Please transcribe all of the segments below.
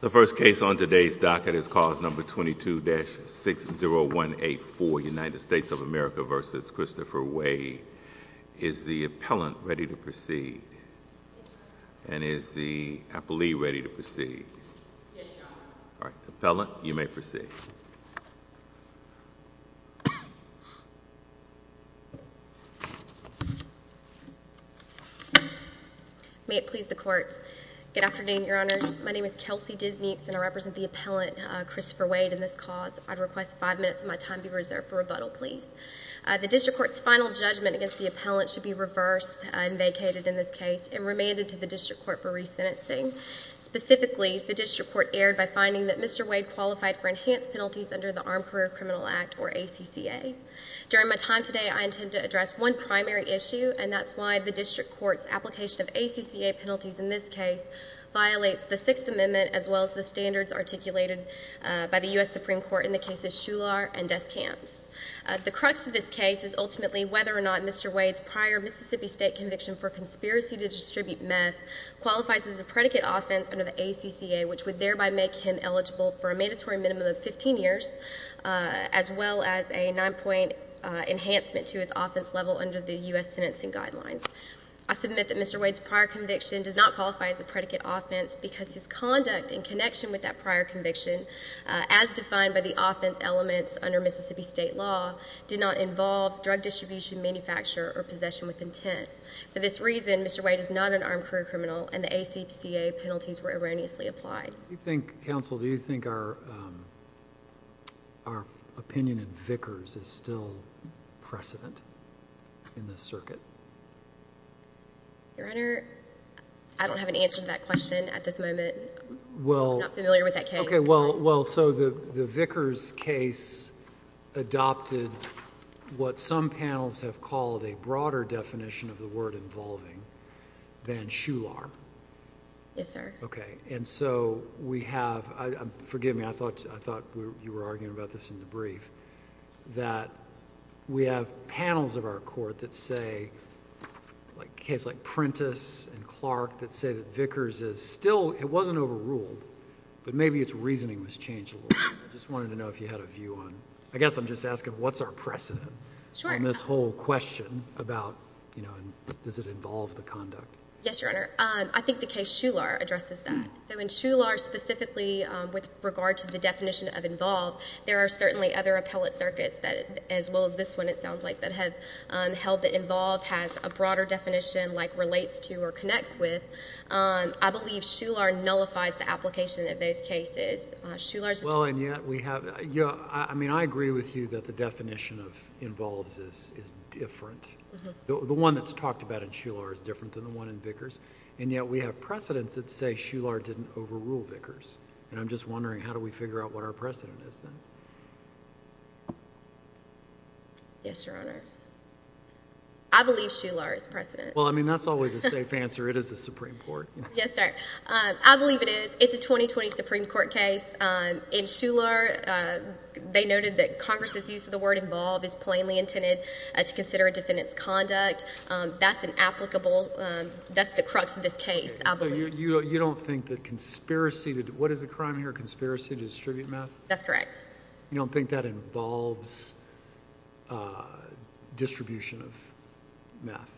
The first case on today's docket is cause number 22-60184, United States of America v. Christopher Wade. Is the appellant ready to proceed? And is the appellee ready to proceed? Yes, your honor. All right. Appellant, you may proceed. May it please the court. Good afternoon, your honors. My name is Kelsey Disnukes, and I represent the appellant, Christopher Wade, in this cause. I'd request five minutes of my time be reserved for rebuttal, please. The district court's final judgment against the appellant should be reversed and vacated in this case and remanded to the district court for resentencing. Specifically, the district court erred by finding that Mr. Wade qualified for enhanced penalties under the Armed Career Criminal Act, or ACCA. During my time today, I intend to address one primary issue, and that's why the district court's application of ACCA penalties in this case violates the Sixth Amendment, as well as the standards articulated by the US Supreme Court in the cases Shular and Descamps. The crux of this case is ultimately whether or not Mr. Wade's prior Mississippi State conviction for conspiracy to distribute meth qualifies as a predicate offense under the ACCA, which would thereby make him eligible for a mandatory minimum of 15 years, as well as a nine-point enhancement to his offense level under the US Sentencing Guidelines. I submit that Mr. Wade's prior conviction does not qualify as a predicate offense, because his conduct in connection with that prior conviction, as defined by the offense elements under Mississippi State law, did not involve drug distribution, manufacture, or possession with intent. For this reason, Mr. Wade is not an armed career criminal, and the ACCA penalties were erroneously applied. Do you think, counsel, do you think our opinion in Vickers is still precedent in this circuit? Your Honor, I don't have an answer to that question at this moment. Well, OK, well, so the Vickers case adopted what some panels have called a broader definition of the word involving than shoelarm. Yes, sir. OK. And so, we have... forgive me, I thought you were arguing about this in the brief, that we have panels of our court that say... a case like Prentiss and Clark that say that Vickers is still... it wasn't overruled, but maybe its reasoning was changed a little. I just wanted to know if you had a view on... I guess I'm just asking what's our precedent on this whole question about, you know, does it involve the conduct? Yes, Your Honor. I think the case Shular addresses that. So, in Shular specifically, with regard to the definition of involve, there are certainly other appellate circuits that, as well as this one, it sounds like, that have held that involve has a broader definition, like relates to or connects with. I believe Shular nullifies the application of those cases. Shular... So, the definition of involves is different. The one that's talked about in Shular is different than the one in Vickers, and yet we have precedents that say Shular didn't overrule Vickers, and I'm just wondering how do we figure out what our precedent is then? Yes, Your Honor. I believe Shular is precedent. Well, I mean, that's always a safe answer. It is the Supreme Court. Yes, sir. I believe it is. It's a 2020 Supreme Court case. In Shular, they noted that Congress's use of the word involve is plainly intended to consider a defendant's conduct. That's an applicable... that's the crux of this case, I believe. You don't think that conspiracy... what is the crime here? Conspiracy to distribute meth? That's correct. You don't think that involves distribution of meth?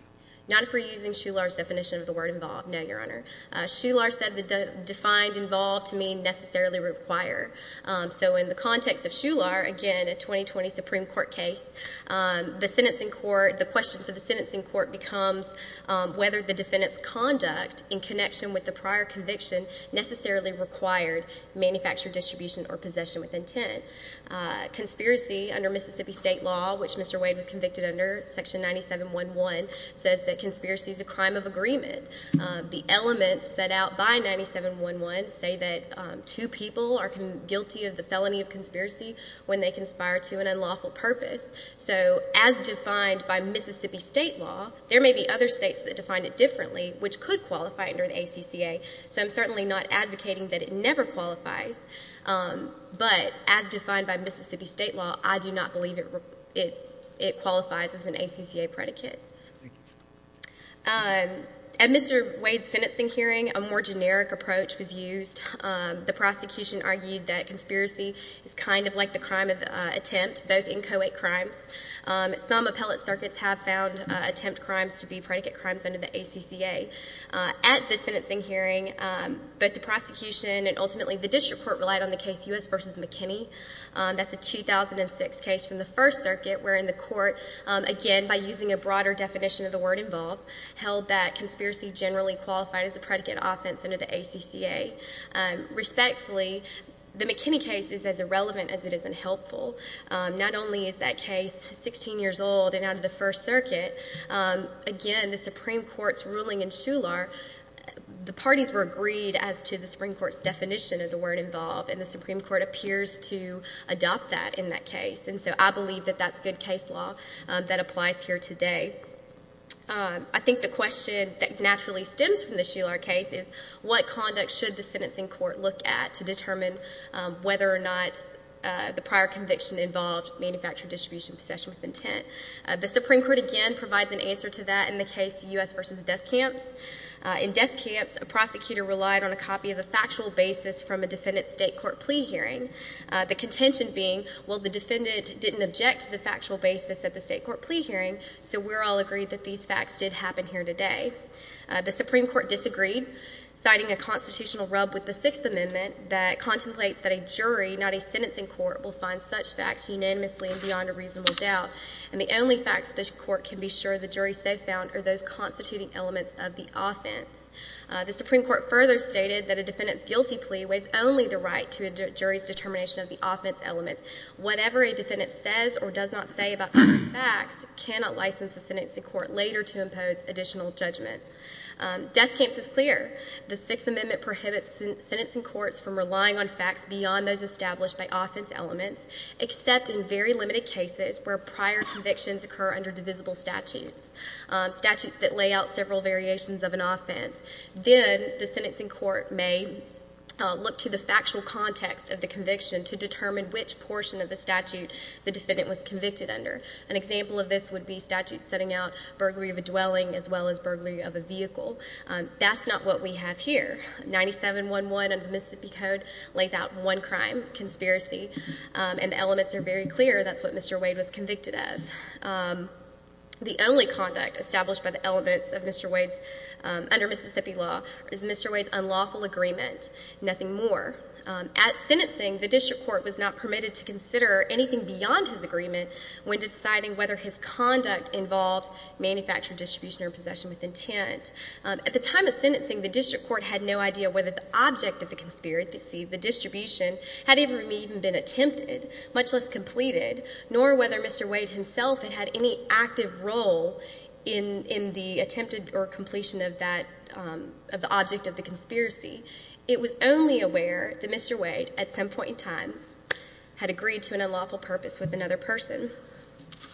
Not if we're using Shular's definition of the word involve. No, Your Honor. Shular said the defined involve to mean necessarily require. So in the context of Shular, again, a 2020 Supreme Court case, the question for the sentencing court becomes whether the defendant's conduct in connection with the prior conviction necessarily required manufactured distribution or possession with intent. Conspiracy under Mississippi State law, which Mr. Wade was convicted under, Section 9711, says that conspiracy is a crime of agreement. The elements set out by 9711 say that two people are guilty of the felony of conspiracy when they conspire to an unlawful purpose. So as defined by Mississippi State law, there may be other states that define it differently, which could qualify under the ACCA, so I'm certainly not advocating that it never qualifies, but as defined by Mississippi State law, I do not believe it qualifies as an ACCA predicate. At Mr. Wade's sentencing hearing, a more generic approach was used. The prosecution argued that conspiracy is kind of like the crime of attempt, both inchoate crimes. Some appellate circuits have found attempt crimes to be predicate crimes under the ACCA. At the sentencing hearing, both the prosecution and ultimately the district court relied on the case U.S. v. McKinney. That's a 2006 case from the First Circuit, wherein the court, again, by using a broader definition of the word involve, held that conspiracy generally qualified as a predicate offense under the ACCA. Respectfully, the McKinney case is as irrelevant as it is unhelpful. Not only is that case 16 years old and out of the First Circuit, again, the Supreme Court's ruling in Shuler, the parties were agreed as to the Supreme Court's definition of the word involve, and the Supreme Court appears to adopt that in that case. And so I believe that that's good case law that applies here today. I think the question that naturally stems from the Shuler case is what conduct should the sentencing court look at to determine whether or not the prior conviction involved manufactured distribution of possession of intent. The Supreme Court, again, provides an answer to that in the case U.S. v. Deskamps. In Deskamps, a prosecutor relied on a copy of the factual basis from a defendant's state court plea hearing. The contention being, well, the defendant didn't object to the factual basis at the state court plea hearing, so we're all agreed that these facts did happen here today. The Supreme Court disagreed, citing a constitutional rub with the Sixth Amendment that contemplates that a jury, not a sentencing court, will find such facts unanimously and beyond a reasonable doubt. And the only facts the court can be sure the jury so found are those constituting elements of the offense. The Supreme Court further stated that a defendant's guilty plea waives only the right to a jury's determination of the offense elements. Whatever a defendant says or does not say about facts cannot license the sentencing court later to impose additional judgment. Deskamps is clear. The Sixth Amendment prohibits sentencing courts from relying on facts beyond those established by offense elements, except in very limited cases where prior convictions occur under divisible statutes, statutes that lay out several variations of an offense. Then the sentencing court may look to the factual context of the conviction to determine which portion of the statute the defendant was convicted under. An example of this would be statutes setting out burglary of a dwelling as well as burglary of a vehicle. That's not what we have here. 9711 under the Mississippi Code lays out one crime, conspiracy, and the elements are very clear that's what Mr. Wade was convicted of. The only conduct established by the elements of Mr. Wade's, under Mississippi law, is Mr. Wade's unlawful agreement. Nothing more. At sentencing, the district court was not permitted to consider anything beyond his agreement when deciding whether his conduct involved manufactured distribution or possession with intent. At the time of sentencing, the district court had no idea whether the object of the conspiracy, the distribution, had even been attempted, much less completed, nor whether Mr. Wade himself had had any active role in the attempted or completion of that, of the object of the conspiracy. It was only aware that Mr. Wade, at some point in time, had agreed to an unlawful purpose with another person.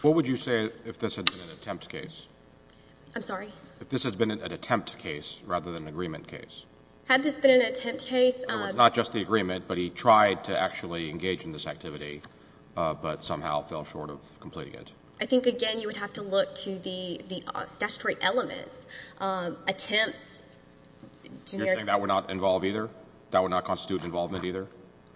What would you say if this had been an attempt case? I'm sorry? If this had been an attempt case rather than an agreement case? Had this been an attempt case? In other words, not just the agreement, but he tried to actually engage in this activity but somehow fell short of completing it. I think, again, you would have to look to the statutory elements. Attempts... You're saying that would not involve either? That would not constitute involvement either?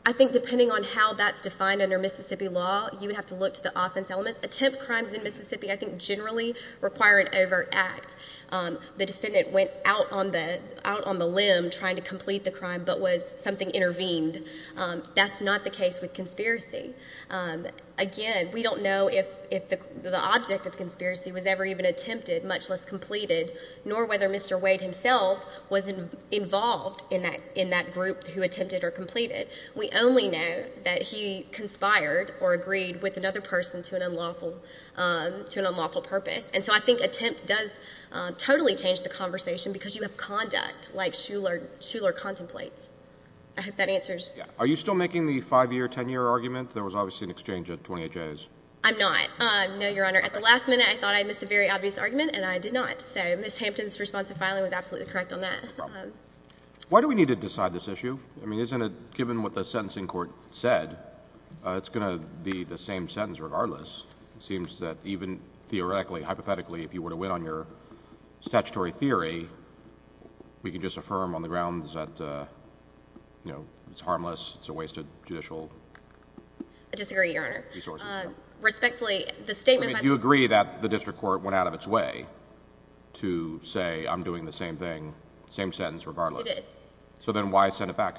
I think depending on how that's defined under Mississippi law, you would have to look to the offense elements. Attempt crimes in Mississippi, I think, generally require an overt act. The defendant went out on the limb trying to complete the crime but was something intervened. That's not the case with conspiracy. Again, we don't know if the object of conspiracy was ever even attempted, much less completed, nor whether Mr. Wade himself was involved in that group who attempted or completed. We only know that he conspired or agreed with another person to an unlawful purpose. I think attempt does totally change the conversation because you have conduct like Shuler contemplates. I hope that answers... Are you still making the 5-year, 10-year argument? There was obviously an exchange at 28 days. I'm not. No, Your Honor. At the last minute, I thought I missed a very obvious argument and I did not. Ms. Hampton's response to filing was absolutely correct on that. Why do we need to decide this issue? Given what the sentencing court said, it's going to be the same sentence regardless. It seems that even theoretically, hypothetically, if you were to win on your promise, it's a wasted judicial resources. I disagree, Your Honor. Respectfully, the statement... Do you agree that the district court went out of its way to say, I'm doing the same thing, same sentence regardless? I did. Then why send it back?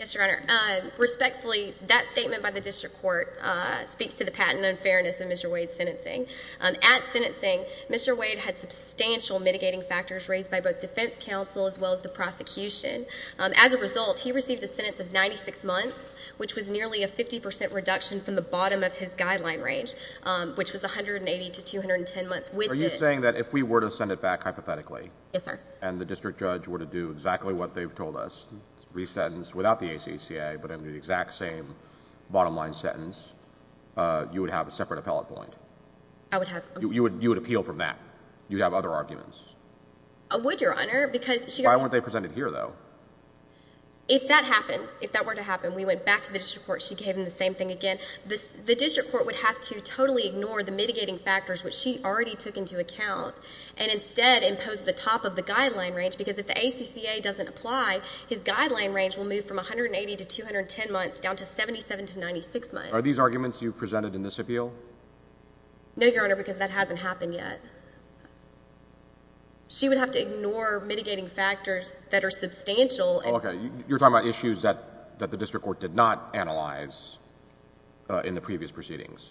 Yes, Your Honor. Respectfully, that statement by the district court speaks to the patent unfairness of Mr. Wade's sentencing. At sentencing, Mr. Wade had substantial mitigating factors raised by both defense counsel as well as the prosecution. As a result, he received a sentence of 96 months, which was nearly a 50% reduction from the bottom of his guideline range, which was 180 to 210 months. Are you saying that if we were to send it back hypothetically and the district judge were to do exactly what they've told us, re-sentence without the ACCA but in the exact same bottom line sentence, you would have a separate appellate point? I would have... You would appeal from that? You'd have other arguments? I would, Your Honor. Why weren't they presented here, though? If that happened, if that were to happen, we went back to the district court, she gave him the same thing again, the district court would have to totally ignore the mitigating factors, which she already took into account, and instead impose the top of the guideline range because if the ACCA doesn't apply, his guideline range will move from 180 to 210 months down to 77 to 96 months. Are these arguments you've presented in this appeal? No, Your Honor, because that hasn't happened yet. She would have to ignore mitigating factors that are substantial. Okay, you're talking about issues that the district court did not analyze in the previous proceedings.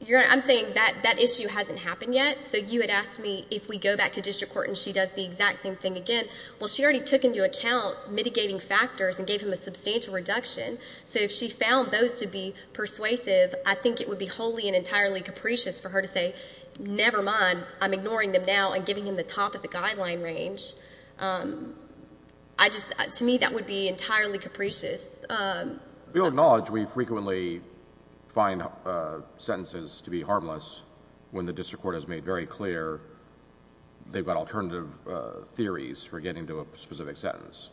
Your Honor, I'm saying that that issue hasn't happened yet, so you had asked me if we go back to district court and she does the exact same thing again, well, she already took into account mitigating factors and gave him a substantial reduction, so if she found those to be persuasive, I think it would be wholly and entirely capricious for her to say, never mind, I'm ignoring them now and giving him the top of the guideline range. To me, that would be entirely capricious. We'll acknowledge we frequently find sentences to be harmless when the district court has made very clear they've got alternative theories for getting to a specific sentence.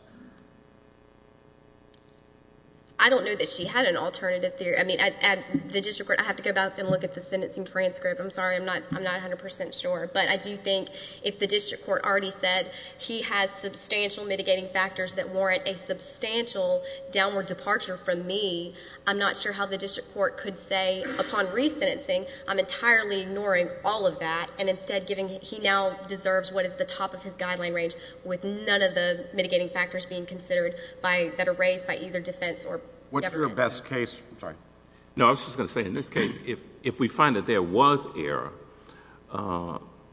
I don't know that she had an alternative theory. I mean, at the district court, I have to go back and look at the I'm not 100% sure, but I do think if the district court already said he has substantial mitigating factors that warrant a substantial downward departure from me, I'm not sure how the district court could say upon re-sentencing, I'm entirely ignoring all of that and instead giving... he now deserves what is the top of his guideline range with none of the mitigating factors being considered that are raised by either defense or What's your best case... I'm sorry. No, I was just going to say in this case, if we find that there was error,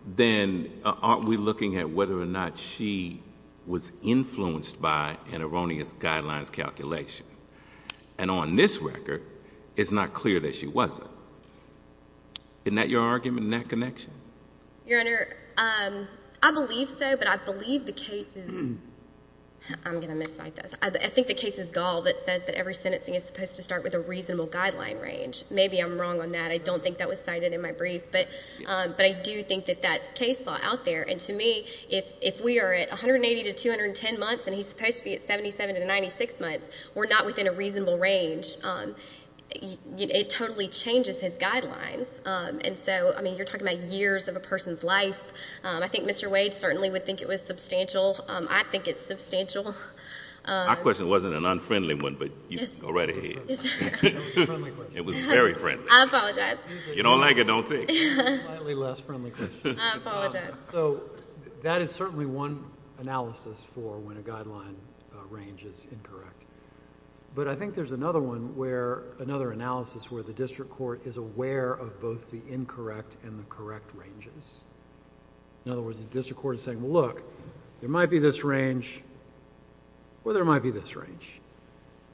then aren't we looking at whether or not she was influenced by an erroneous guidelines calculation? On this record, it's not clear that she wasn't. Isn't that your argument in that connection? Your Honor, I believe so, but I believe the case is... I'm going to miscite this. I think the case is Gall that says that every sentencing is supposed to be within a reasonable guideline range. Maybe I'm wrong on that. I don't think that was cited in my brief, but I do think that that's case law out there, and to me, if we are at 180 to 210 months and he's supposed to be at 77 to 96 months, we're not within a reasonable range. It totally changes his guidelines. You're talking about years of a person's life. I think Mr. Wade certainly would think it was substantial. I think it's substantial. Our question wasn't an unfriendly one, but go right ahead. It was a friendly question. It was very friendly. I apologize. You don't like it? Don't take it. Slightly less friendly question. I apologize. That is certainly one analysis for when a guideline range is incorrect. I think there's another analysis where the district court is aware of both the incorrect and the correct ranges. In other words, the district court is saying, well, look, there might be this range or there might be this range.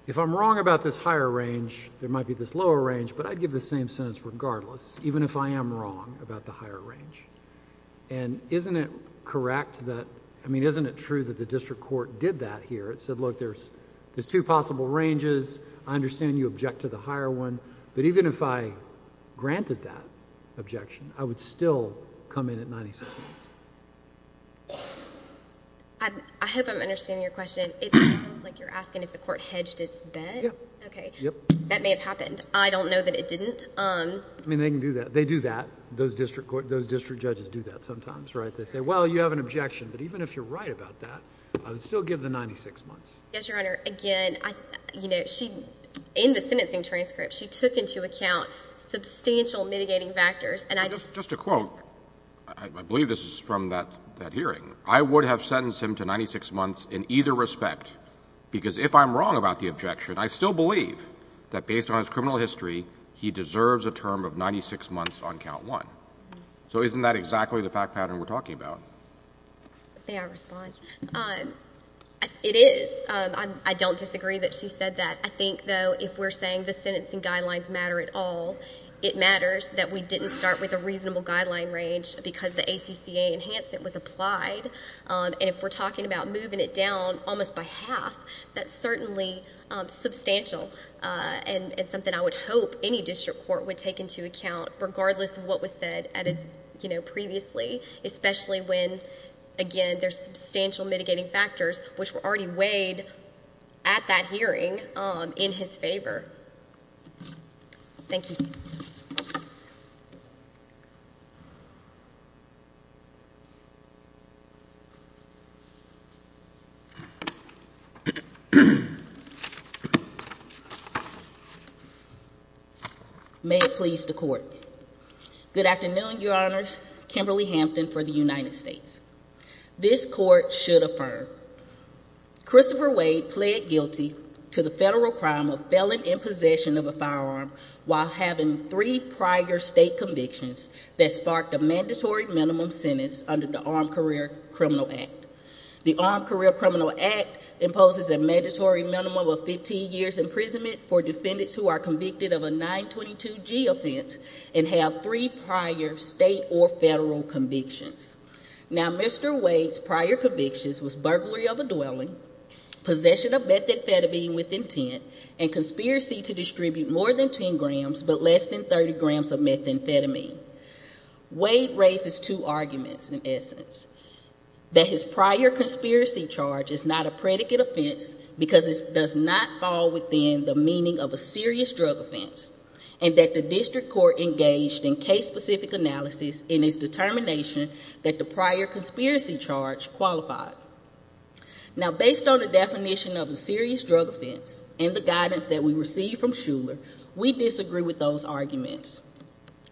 If I'm wrong about this higher range, there might be this lower range, but I'd give the same sentence regardless, even if I am wrong about the higher range. Isn't it correct that... I mean, isn't it true that the district court did that here? It said, look, there's two possible ranges. I understand you object to the higher one, but even if I granted that objection, I would still come in at 96 months. I hope I'm understanding your question. It sounds like you're asking if the court hedged its bet. Yes. Okay. Yes. That may have happened. I don't know that it didn't. I mean, they can do that. They do that. Those district judges do that sometimes, right? They say, well, you have an objection, but even if you're right about that, I would still give the 96 months. Yes, Your Honor. Again, in the sentencing transcript, she took into account substantial mitigating factors, and I just... Just a quote. I believe this is from that hearing. I would have sentenced him to 96 months in either respect because if I'm wrong about the objection, I still believe that based on his criminal history, he deserves a term of 96 months on count one. So isn't that exactly the fact pattern we're talking about? May I respond? It is. I don't disagree that she said that. I think, though, if we're saying the sentencing guidelines matter at all, it matters that we didn't start with a reasonable guideline range because the ACCA enhancement was applied. And if we're talking about moving it down almost by half, that's certainly substantial and something I would hope any district court would take into account, regardless of what was said previously, especially when, again, there's substantial mitigating factors, which were already weighed at that hearing in his favor. Thank you. May it please the court. Good afternoon, Your Honors. Kimberly Hampton for the United States. This court should affirm. Christopher Wade pled guilty to the federal crime of felon in possession of a firearm while having three prior state convictions that sparked a mandatory minimum sentence under the Armed Career Criminal Act. The Armed Career Criminal Act imposes a mandatory minimum of 15 years imprisonment for defendants who are convicted of a 922G offense and have three prior state or federal convictions. Now, Mr. Wade's prior convictions was burglary of a dwelling, possession of methamphetamine with intent, and conspiracy to distribute more than 10 grams but less than 30 grams of methamphetamine. Wade raises two arguments in essence, that his prior conspiracy charge is not a predicate offense because it does not fall within the meaning of a serious drug offense, and that the district court engaged in case-specific analysis in its determination that the prior conspiracy charge qualified. Now, based on the definition of a serious drug offense and the guidance that we received from Shuler, we disagree with those arguments.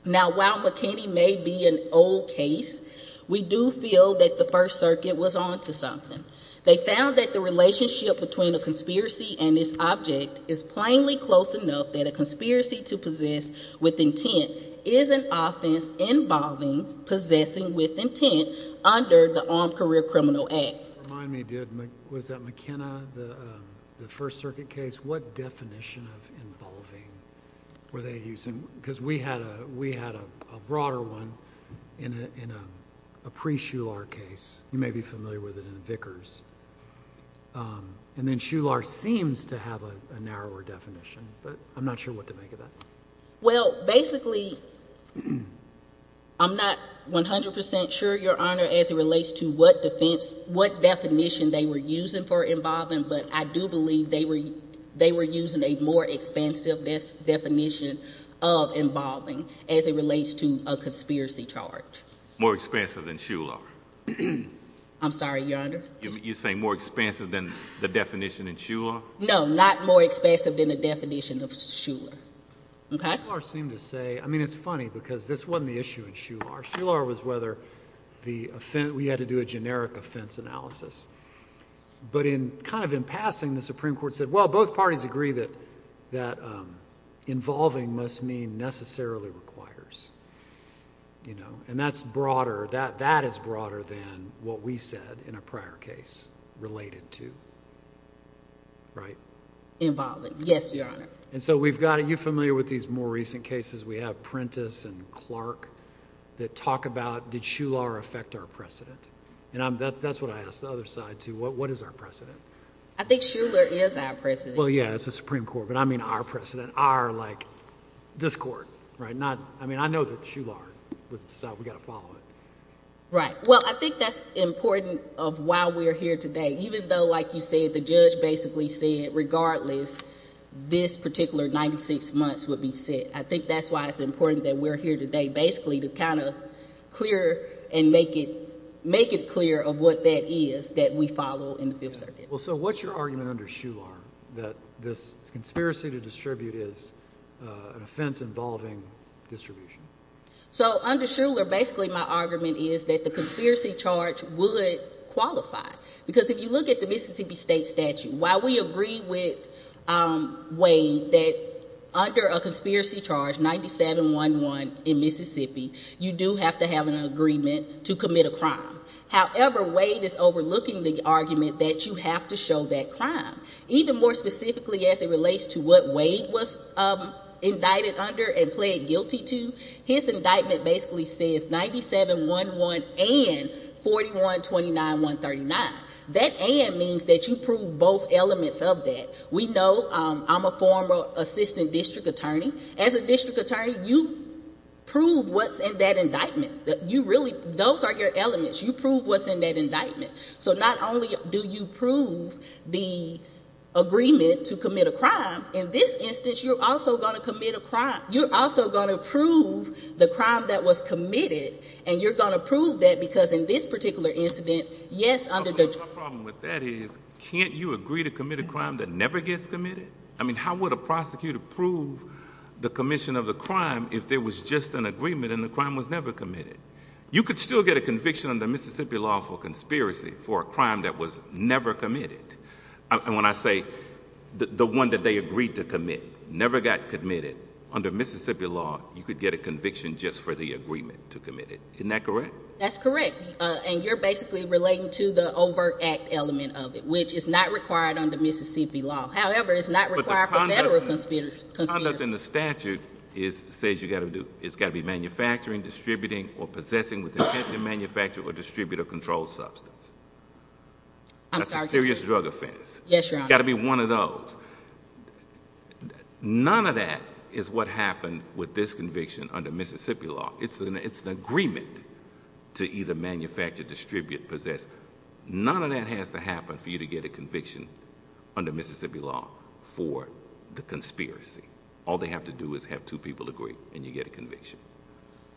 Now, while McKinney may be an old case, we do feel that the First Circuit was on to something. They found that the relationship between a conspiracy and its object is plainly close enough that a conspiracy to possess with intent is an offense involving possessing with intent under the Armed Career Criminal Act. Remind me, was that McKinney, the First Circuit case? What definition of involving were they using? Because we had a broader one in a pre-Shuler case. You may be familiar with it in Vickers. And then Shuler seems to have a narrower definition, but I'm not sure what to make of that. Well, basically, I'm not 100 percent sure, Your Honor, as it relates to what definition they were using for involving, but I do believe they were using a more expansive definition of involving as it relates to a conspiracy charge. More expansive than Shuler? I'm sorry, Your Honor? You're saying more expansive than the definition in Shuler? No, not more expansive than the definition of Shuler. Shuler seemed to say, I mean, it's funny because this wasn't the issue in Shuler. Shuler was whether we had to do a generic offense analysis. But kind of in passing, the Supreme Court said, well, both parties agree that involving must mean necessarily requires. And that's broader. That is broader than what we said in a prior case related to, right? Involving. Yes, Your Honor. And so we've got... are you familiar with these more recent cases? We have Prentiss and Clark that talk about, did Shuler affect our precedent? And that's what I ask the other side, too. What is our precedent? I think Shuler is our precedent. Well, yeah, it's the Supreme Court, but I mean our precedent. Our, like, this court, right? I mean, I know that Shuler was decided we've got to follow it. Right. Well, I think that's important of why we're here today. Even though, like you said, the judge basically said, regardless, this particular 96 months would be set. I think that's why it's important that we're here today, basically, to kind of clear and make it clear of what that is that we follow in the field circuit. Well, so what's your argument under Shuler that this conspiracy to distribute is an offense involving distribution? So under Shuler, basically my argument is that the conspiracy charge would qualify. Because if you look at the Mississippi State statute, while we agree with Wade that under a conspiracy charge, 97-1-1 in Mississippi, you do have to have an agreement to commit a crime. However, Wade is overlooking the argument that you have to show that crime. Even more specifically as it relates to what Wade was indicted under and pled guilty to, his indictment basically says 97-1-1 and 41-29-139. That and means that you prove both elements of that. We know I'm a former assistant district attorney. As a district attorney, you prove what's in that indictment. Those are your elements. You prove what's in that indictment. So not only do you prove the agreement to commit a crime, in this instance you're also going to commit a crime. You're also going to prove the crime that was committed, and you're going to prove that because in this particular incident, yes, under the… My problem with that is can't you agree to commit a crime that never gets committed? I mean how would a prosecutor prove the commission of a crime if there was just an agreement and the crime was never committed? You could still get a conviction under Mississippi law for conspiracy for a crime that was never committed. And when I say the one that they agreed to commit never got committed, under Mississippi law you could get a conviction just for the agreement to commit it. Isn't that correct? That's correct. And you're basically relating to the overt act element of it, which is not required under Mississippi law. However, it's not required for federal conspiracy. The conduct in the statute says it's got to be manufacturing, distributing, or possessing with intent to manufacture or distribute a controlled substance. That's a serious drug offense. Yes, Your Honor. It's got to be one of those. None of that is what happened with this conviction under Mississippi law. It's an agreement to either manufacture, distribute, possess. None of that has to happen for you to get a conviction under Mississippi law for the conspiracy. All they have to do is have two people agree and you get a conviction.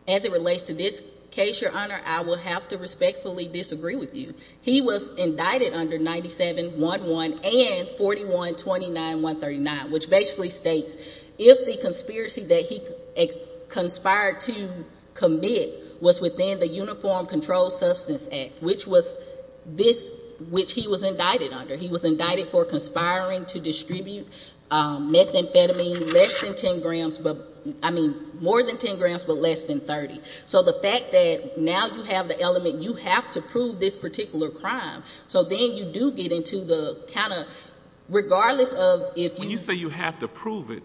As it relates to this case, Your Honor, I will have to respectfully disagree with you. He was indicted under 97-1-1 and 41-29-139, which basically states if the conspiracy that he conspired to commit was within the Uniform Controlled Substance Act, which he was indicted under. He was indicted for conspiring to distribute methamphetamine less than 10 grams, I mean more than 10 grams but less than 30. So the fact that now you have the element, you have to prove this particular crime. So then you do get into the kind of regardless of if you— When you say you have to prove it,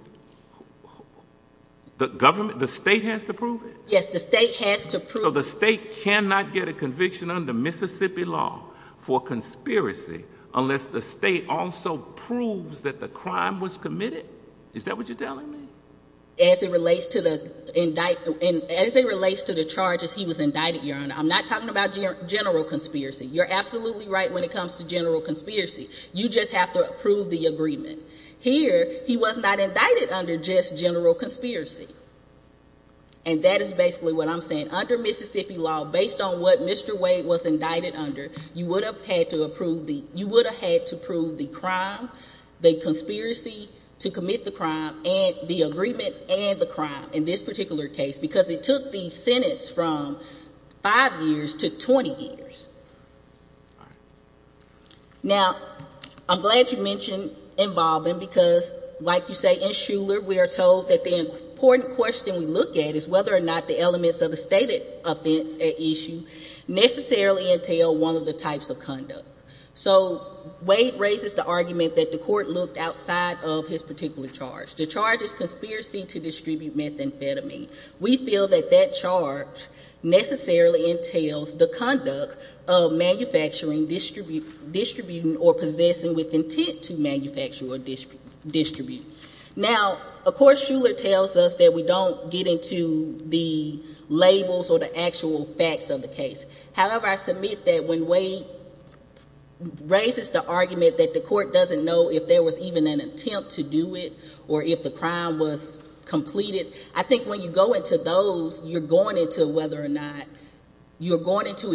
the government, the state has to prove it? Yes, the state has to prove it. So the state cannot get a conviction under Mississippi law for conspiracy unless the state also proves that the crime was committed? Is that what you're telling me? As it relates to the charges he was indicted, Your Honor, I'm not talking about general conspiracy. You're absolutely right when it comes to general conspiracy. You just have to approve the agreement. Here, he was not indicted under just general conspiracy. And that is basically what I'm saying. Under Mississippi law, based on what Mr. Wade was indicted under, you would have had to prove the crime, the conspiracy to commit the crime, and the agreement and the crime in this particular case because it took the Senate from five years to 20 years. Now, I'm glad you mentioned involving because, like you say, in Shuler, we are told that the important question we look at is whether or not the elements of the stated offense at issue necessarily entail one of the types of conduct. So Wade raises the argument that the court looked outside of his particular charge. The charge is conspiracy to distribute methamphetamine. We feel that that charge necessarily entails the conduct of manufacturing, distributing, or possessing with intent to manufacture or distribute. Now, of course, Shuler tells us that we don't get into the labels or the actual facts of the case. However, I submit that when Wade raises the argument that the court doesn't know if there was even an attempt to do it or if the crime was completed, I think when you go into those, you're going into whether or not you're going into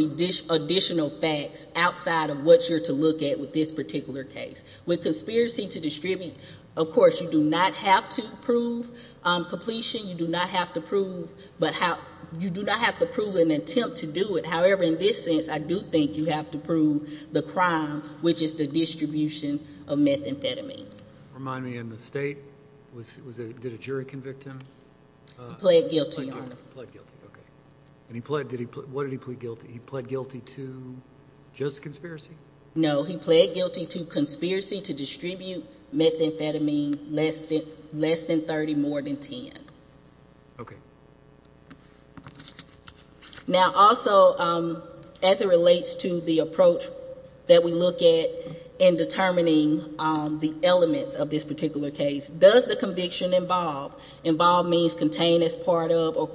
additional facts outside of what you're to look at with this particular case. With conspiracy to distribute, of course, you do not have to prove completion. You do not have to prove an attempt to do it. However, in this sense, I do think you have to prove the crime, which is the distribution of methamphetamine. Remind me, in the state, did a jury convict him? He pled guilty, Your Honor. He pled guilty, okay. What did he plead guilty? He pled guilty to just conspiracy? No, he pled guilty to conspiracy to distribute methamphetamine less than 30, more than 10. Okay. Now, also, as it relates to the approach that we look at in determining the elements of this particular case, does the conviction involve, involve means contain as part of, or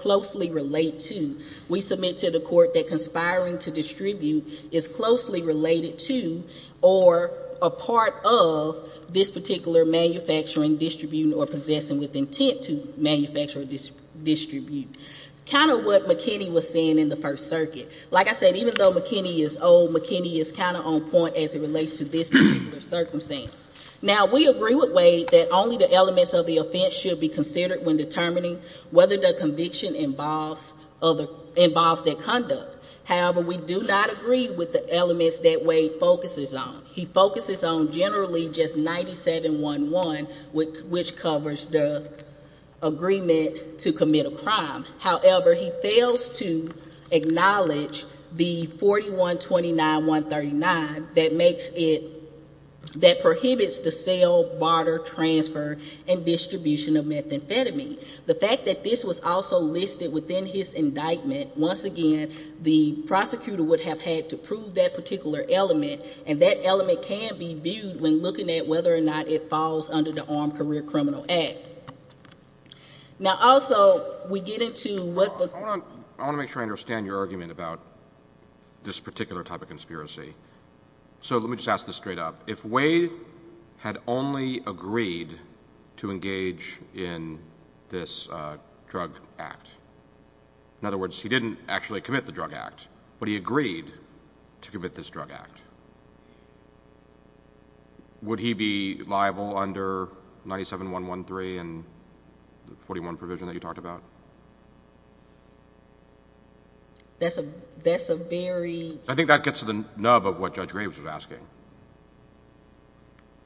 closely relate to? We submit to the court that conspiring to distribute is closely related to or a part of this particular manufacturing, distributing, or possessing with intent to manufacture or distribute. Kind of what McKinney was saying in the First Circuit. Like I said, even though McKinney is old, McKinney is kind of on point as it relates to this particular circumstance. Now, we agree with Wade that only the elements of the offense should be considered when determining whether the conviction involves that conduct. However, we do not agree with the elements that Wade focuses on. He focuses on generally just 97-1-1, which covers the agreement to commit a crime. However, he fails to acknowledge the 41-29-139 that makes it, that prohibits the sale, barter, transfer, and distribution of methamphetamine. The fact that this was also listed within his indictment, once again, the prosecutor would have had to prove that particular element, and that element can be viewed when looking at whether or not it falls under the Armed Career Criminal Act. Now, also, we get into what the— Hold on. I want to make sure I understand your argument about this particular type of conspiracy. So let me just ask this straight up. If Wade had only agreed to engage in this drug act, in other words, he didn't actually commit the drug act, but he agreed to commit this drug act, would he be liable under 97-1-1-3 and the 41 provision that you talked about? That's a very— I think that gets to the nub of what Judge Graves was asking.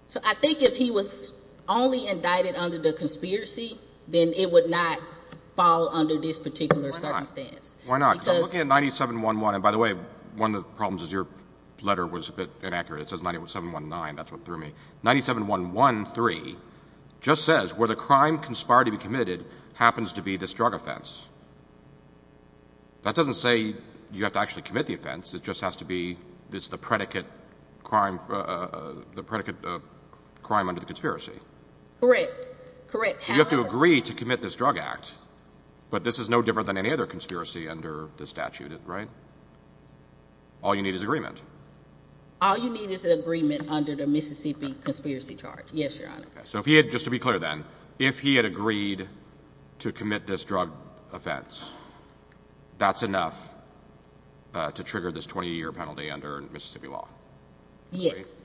So I think if he was only indicted under the conspiracy, then it would not fall under this particular circumstance. Why not? Because looking at 97-1-1—and by the way, one of the problems is your letter was a bit inaccurate. It says 97-1-9. That's what threw me. 97-1-1-3 just says where the crime conspired to be committed happens to be this drug offense. That doesn't say you have to actually commit the offense. It just has to be the predicate crime under the conspiracy. Correct. Correct. So you have to agree to commit this drug act, but this is no different than any other conspiracy under the statute, right? All you need is agreement. All you need is agreement under the Mississippi Conspiracy Charge. Yes, Your Honor. So if he had—just to be clear then—if he had agreed to commit this drug offense, that's enough to trigger this 20-year penalty under Mississippi law? Yes.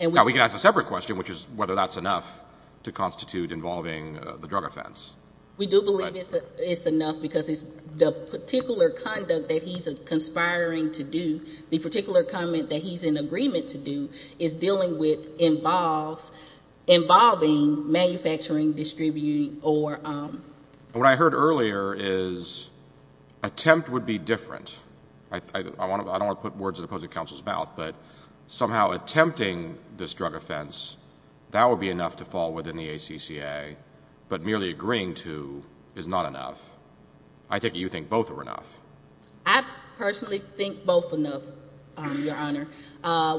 Now we can ask a separate question, which is whether that's enough to constitute involving the drug offense. We do believe it's enough because the particular conduct that he's conspiring to do, the particular comment that he's in agreement to do, is dealing with involving manufacturing, distributing, or— What I heard earlier is attempt would be different. I don't want to put words in the opposing counsel's mouth, but somehow attempting this drug offense, that would be enough to fall within the ACCA, but merely agreeing to is not enough. I take it you think both are enough. I personally think both are enough, Your Honor.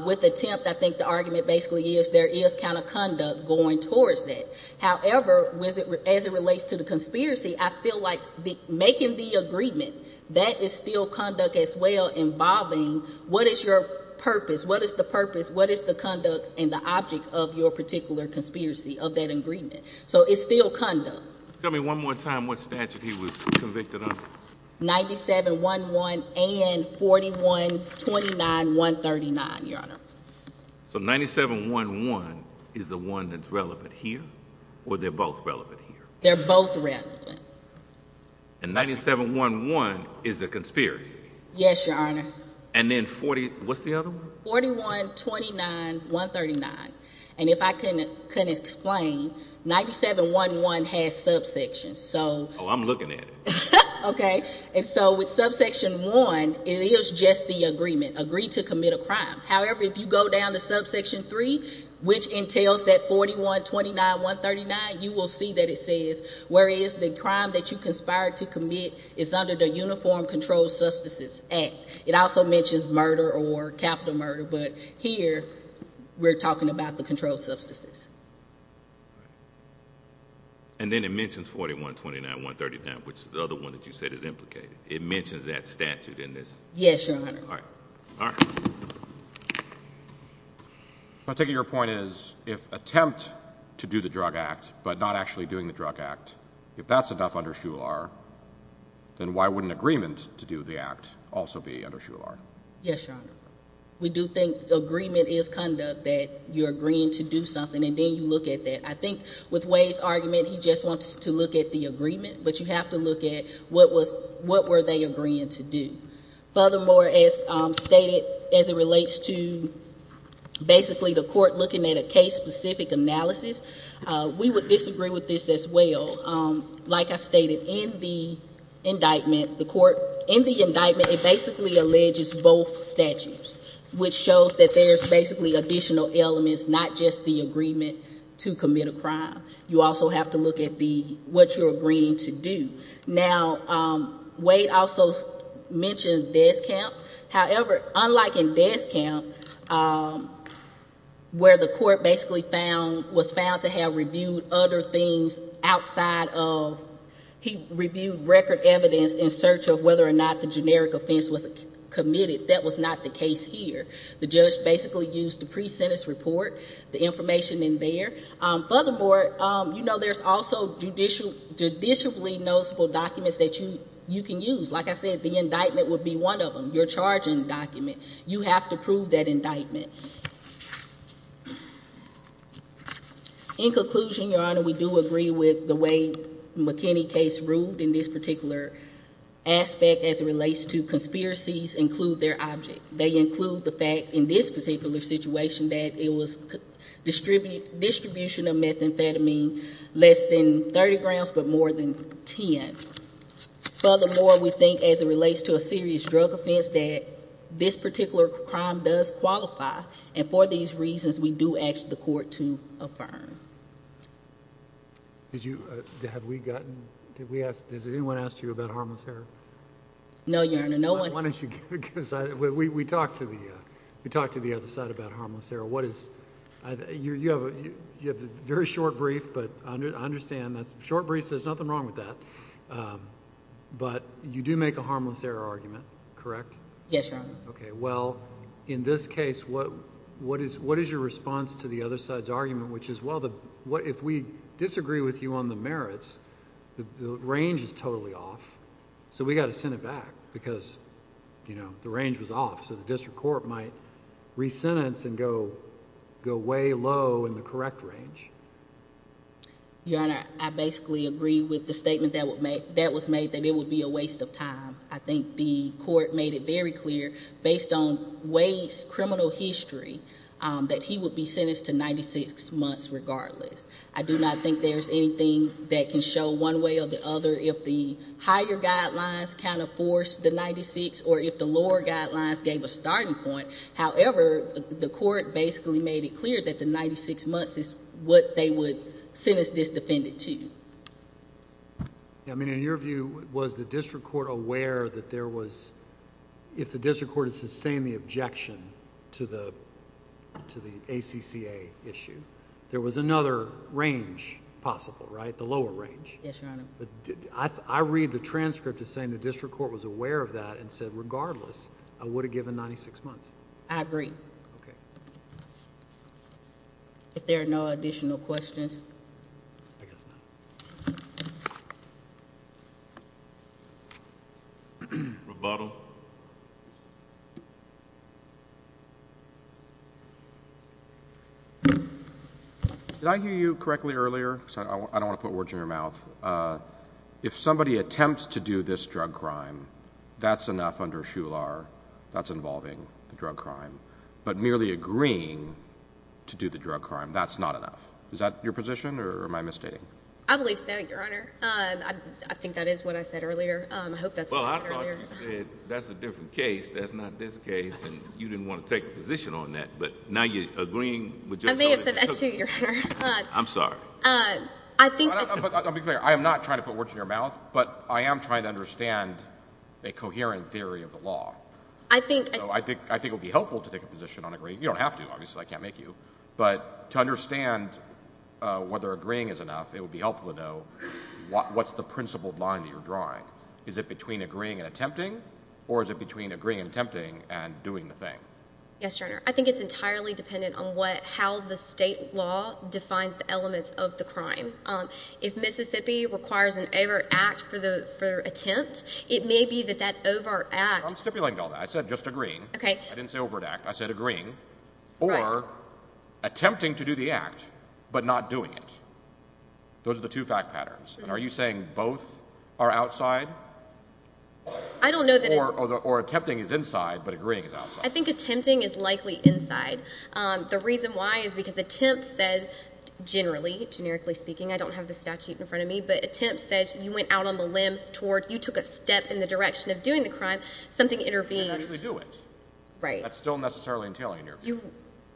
With attempt, I think the argument basically is there is counterconduct going towards that. However, as it relates to the conspiracy, I feel like making the agreement, that is still conduct as well involving what is your purpose, what is the purpose, what is the conduct and the object of your particular conspiracy of that agreement. So it's still conduct. Tell me one more time what statute he was convicted under. 97-1-1 and 41-29-139, Your Honor. So 97-1-1 is the one that's relevant here, or they're both relevant here? They're both relevant. And 97-1-1 is a conspiracy? Yes, Your Honor. And then 40—what's the other one? 41-29-139. And if I can explain, 97-1-1 has subsections, so— Oh, I'm looking at it. Okay. And so with subsection 1, it is just the agreement, agree to commit a crime. However, if you go down to subsection 3, which entails that 41-29-139, you will see that it says, where is the crime that you conspired to commit is under the Uniform Controlled Substances Act. It also mentions murder or capital murder, but here we're talking about the controlled substances. And then it mentions 41-29-139, which is the other one that you said is implicated. It mentions that statute in this? Yes, Your Honor. All right. All right. My take of your point is, if attempt to do the drug act but not actually doing the drug act, if that's enough under SHULAR, then why wouldn't agreement to do the act also be under SHULAR? Yes, Your Honor. We do think agreement is conduct, that you're agreeing to do something, and then you look at that. I think with Wade's argument, he just wants to look at the agreement, but you have to look at what were they agreeing to do. Furthermore, as stated, as it relates to basically the court looking at a case-specific analysis, we would disagree with this as well. Like I stated, in the indictment, it basically alleges both statutes, which shows that there's basically additional elements, not just the agreement to commit a crime. You also have to look at what you're agreeing to do. Now, Wade also mentioned death count. However, unlike in death count, where the court basically was found to have reviewed other things outside of, he reviewed record evidence in search of whether or not the generic offense was committed. That was not the case here. The judge basically used the pre-sentence report, the information in there. Furthermore, you know there's also judicially noticeable documents that you can use. Like I said, the indictment would be one of them, your charging document. You have to prove that indictment. In conclusion, Your Honor, we do agree with the way McKinney case ruled in this particular aspect as it relates to conspiracies include their object. They include the fact in this particular situation that it was distribution of methamphetamine less than 30 grams but more than 10. Furthermore, we think as it relates to a serious drug offense that this particular crime does qualify, and for these reasons we do ask the court to affirm. Did you, have we gotten, did we ask, has anyone asked you about harmless heroin? No, Your Honor. We talked to the other side about harmless heroin. What is, you have a very short brief, but I understand, short brief, there's nothing wrong with that. But you do make a harmless error argument, correct? Yes, Your Honor. Okay, well, in this case, what is your response to the other side's argument, which is, well, if we disagree with you on the merits, the range is totally off, so we've got to send it back because, you know, the range was off, so the district court might re-sentence and go way low in the correct range. Your Honor, I basically agree with the statement that was made that it would be a waste of time. I think the court made it very clear based on Wade's criminal history that he would be sentenced to 96 months regardless. I do not think there's anything that can show one way or the other if the higher guidelines kind of forced the 96 or if the lower guidelines gave a starting point. However, the court basically made it clear that the 96 months is what they would sentence this defendant to. I mean, in your view, was the district court aware that there was, if the district court had sustained the objection to the ACCA issue, there was another range possible, right, the lower range? Yes, Your Honor. I read the transcript as saying the district court was aware of that and said, regardless, I would have given 96 months. I agree. Okay. If there are no additional questions. I guess not. Rebuttal. Did I hear you correctly earlier? I don't want to put words in your mouth. If somebody attempts to do this drug crime, that's enough under Shular. That's involving the drug crime. But merely agreeing to do the drug crime, that's not enough. Is that your position or am I misstating? I believe so, Your Honor. I think that is what I said earlier. I hope that's what I said earlier. Well, I thought you said that's a different case, that's not this case, and you didn't want to take a position on that. But now you're agreeing with just what I said. I may have said that, too, Your Honor. I'm sorry. I'll be clear. I am not trying to put words in your mouth, but I am trying to understand a coherent theory of the law. So I think it would be helpful to take a position on agreeing. You don't have to. Obviously, I can't make you. But to understand whether agreeing is enough, it would be helpful to know what's the principled line that you're drawing. Is it between agreeing and attempting, or is it between agreeing and attempting and doing the thing? Yes, Your Honor. I think it's entirely dependent on how the state law defines the elements of the crime. If Mississippi requires an overt act for attempt, it may be that that overt act – I'm stipulating all that. I said just agreeing. Okay. I didn't say overt act. I said agreeing. Right. Or attempting to do the act, but not doing it. Those are the two fact patterns. And are you saying both are outside? I don't know that it – Or attempting is inside, but agreeing is outside. I think attempting is likely inside. The reason why is because attempt says – generally, generically speaking. I don't have the statute in front of me. But attempt says you went out on the limb toward – you took a step in the direction of doing the crime. Something intervened. You didn't actually do it. Right. That's still necessarily entailing an interview.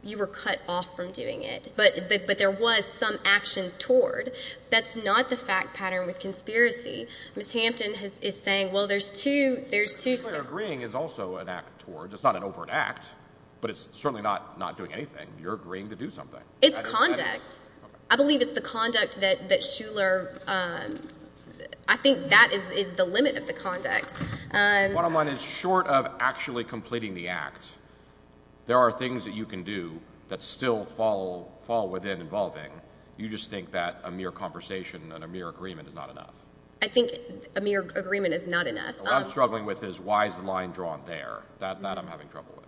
You were cut off from doing it. But there was some action toward. That's not the fact pattern with conspiracy. Ms. Hampton is saying, well, there's two – there's two – Well, your agreeing is also an act toward. It's not an overt act. But it's certainly not doing anything. You're agreeing to do something. It's conduct. I believe it's the conduct that Shuler – I think that is the limit of the conduct. Bottom line is short of actually completing the act, there are things that you can do that still fall within involving. You just think that a mere conversation and a mere agreement is not enough. I think a mere agreement is not enough. What I'm struggling with is why is the line drawn there. That I'm having trouble with.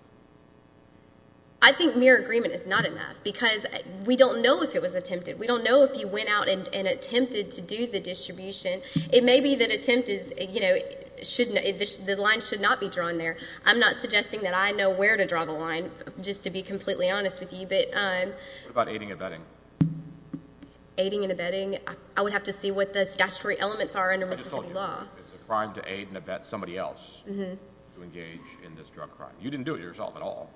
I think mere agreement is not enough because we don't know if it was attempted. We don't know if you went out and attempted to do the distribution. It may be that attempt is – the line should not be drawn there. I'm not suggesting that I know where to draw the line, just to be completely honest with you. What about aiding and abetting? Aiding and abetting? I would have to see what the statutory elements are under Mississippi law. I just told you it's a crime to aid and abet somebody else to engage in this drug crime. You didn't do it yourself at all.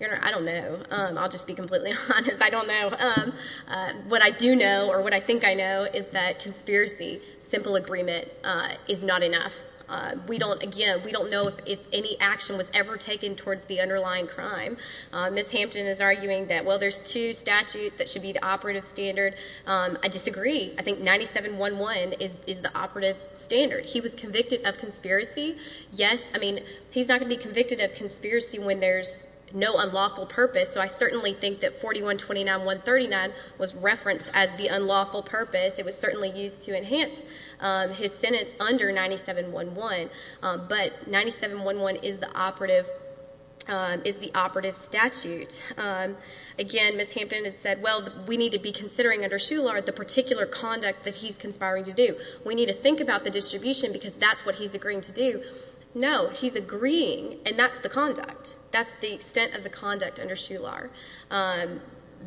Your Honor, I don't know. I'll just be completely honest. I don't know. What I do know, or what I think I know, is that conspiracy, simple agreement, is not enough. Again, we don't know if any action was ever taken towards the underlying crime. Ms. Hampton is arguing that, well, there's two statutes that should be the operative standard. I disagree. I think 9711 is the operative standard. He was convicted of conspiracy. Yes, I mean, he's not going to be convicted of conspiracy when there's no unlawful purpose. So I certainly think that 4129.139 was referenced as the unlawful purpose. It was certainly used to enhance his sentence under 9711. But 9711 is the operative statute. Again, Ms. Hampton had said, well, we need to be considering under Shular the particular conduct that he's conspiring to do. We need to think about the distribution because that's what he's agreeing to do. No, he's agreeing, and that's the conduct. That's the extent of the conduct under Shular.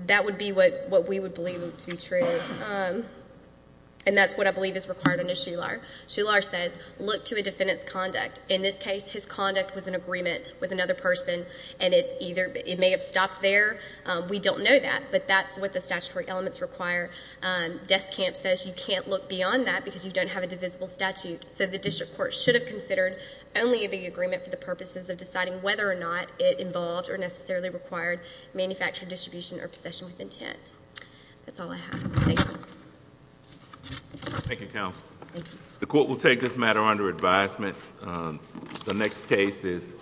That would be what we would believe to be true, and that's what I believe is required under Shular. Shular says, look to a defendant's conduct. In this case, his conduct was in agreement with another person, and it may have stopped there. We don't know that, but that's what the statutory elements require. Deskamp says you can't look beyond that because you don't have a divisible statute. So the district court should have considered only the agreement for the purposes of deciding whether or not it involved or necessarily required manufactured distribution or possession with intent. That's all I have. Thank you. Thank you, counsel. Thank you. The court will take this matter under advisement. The next case is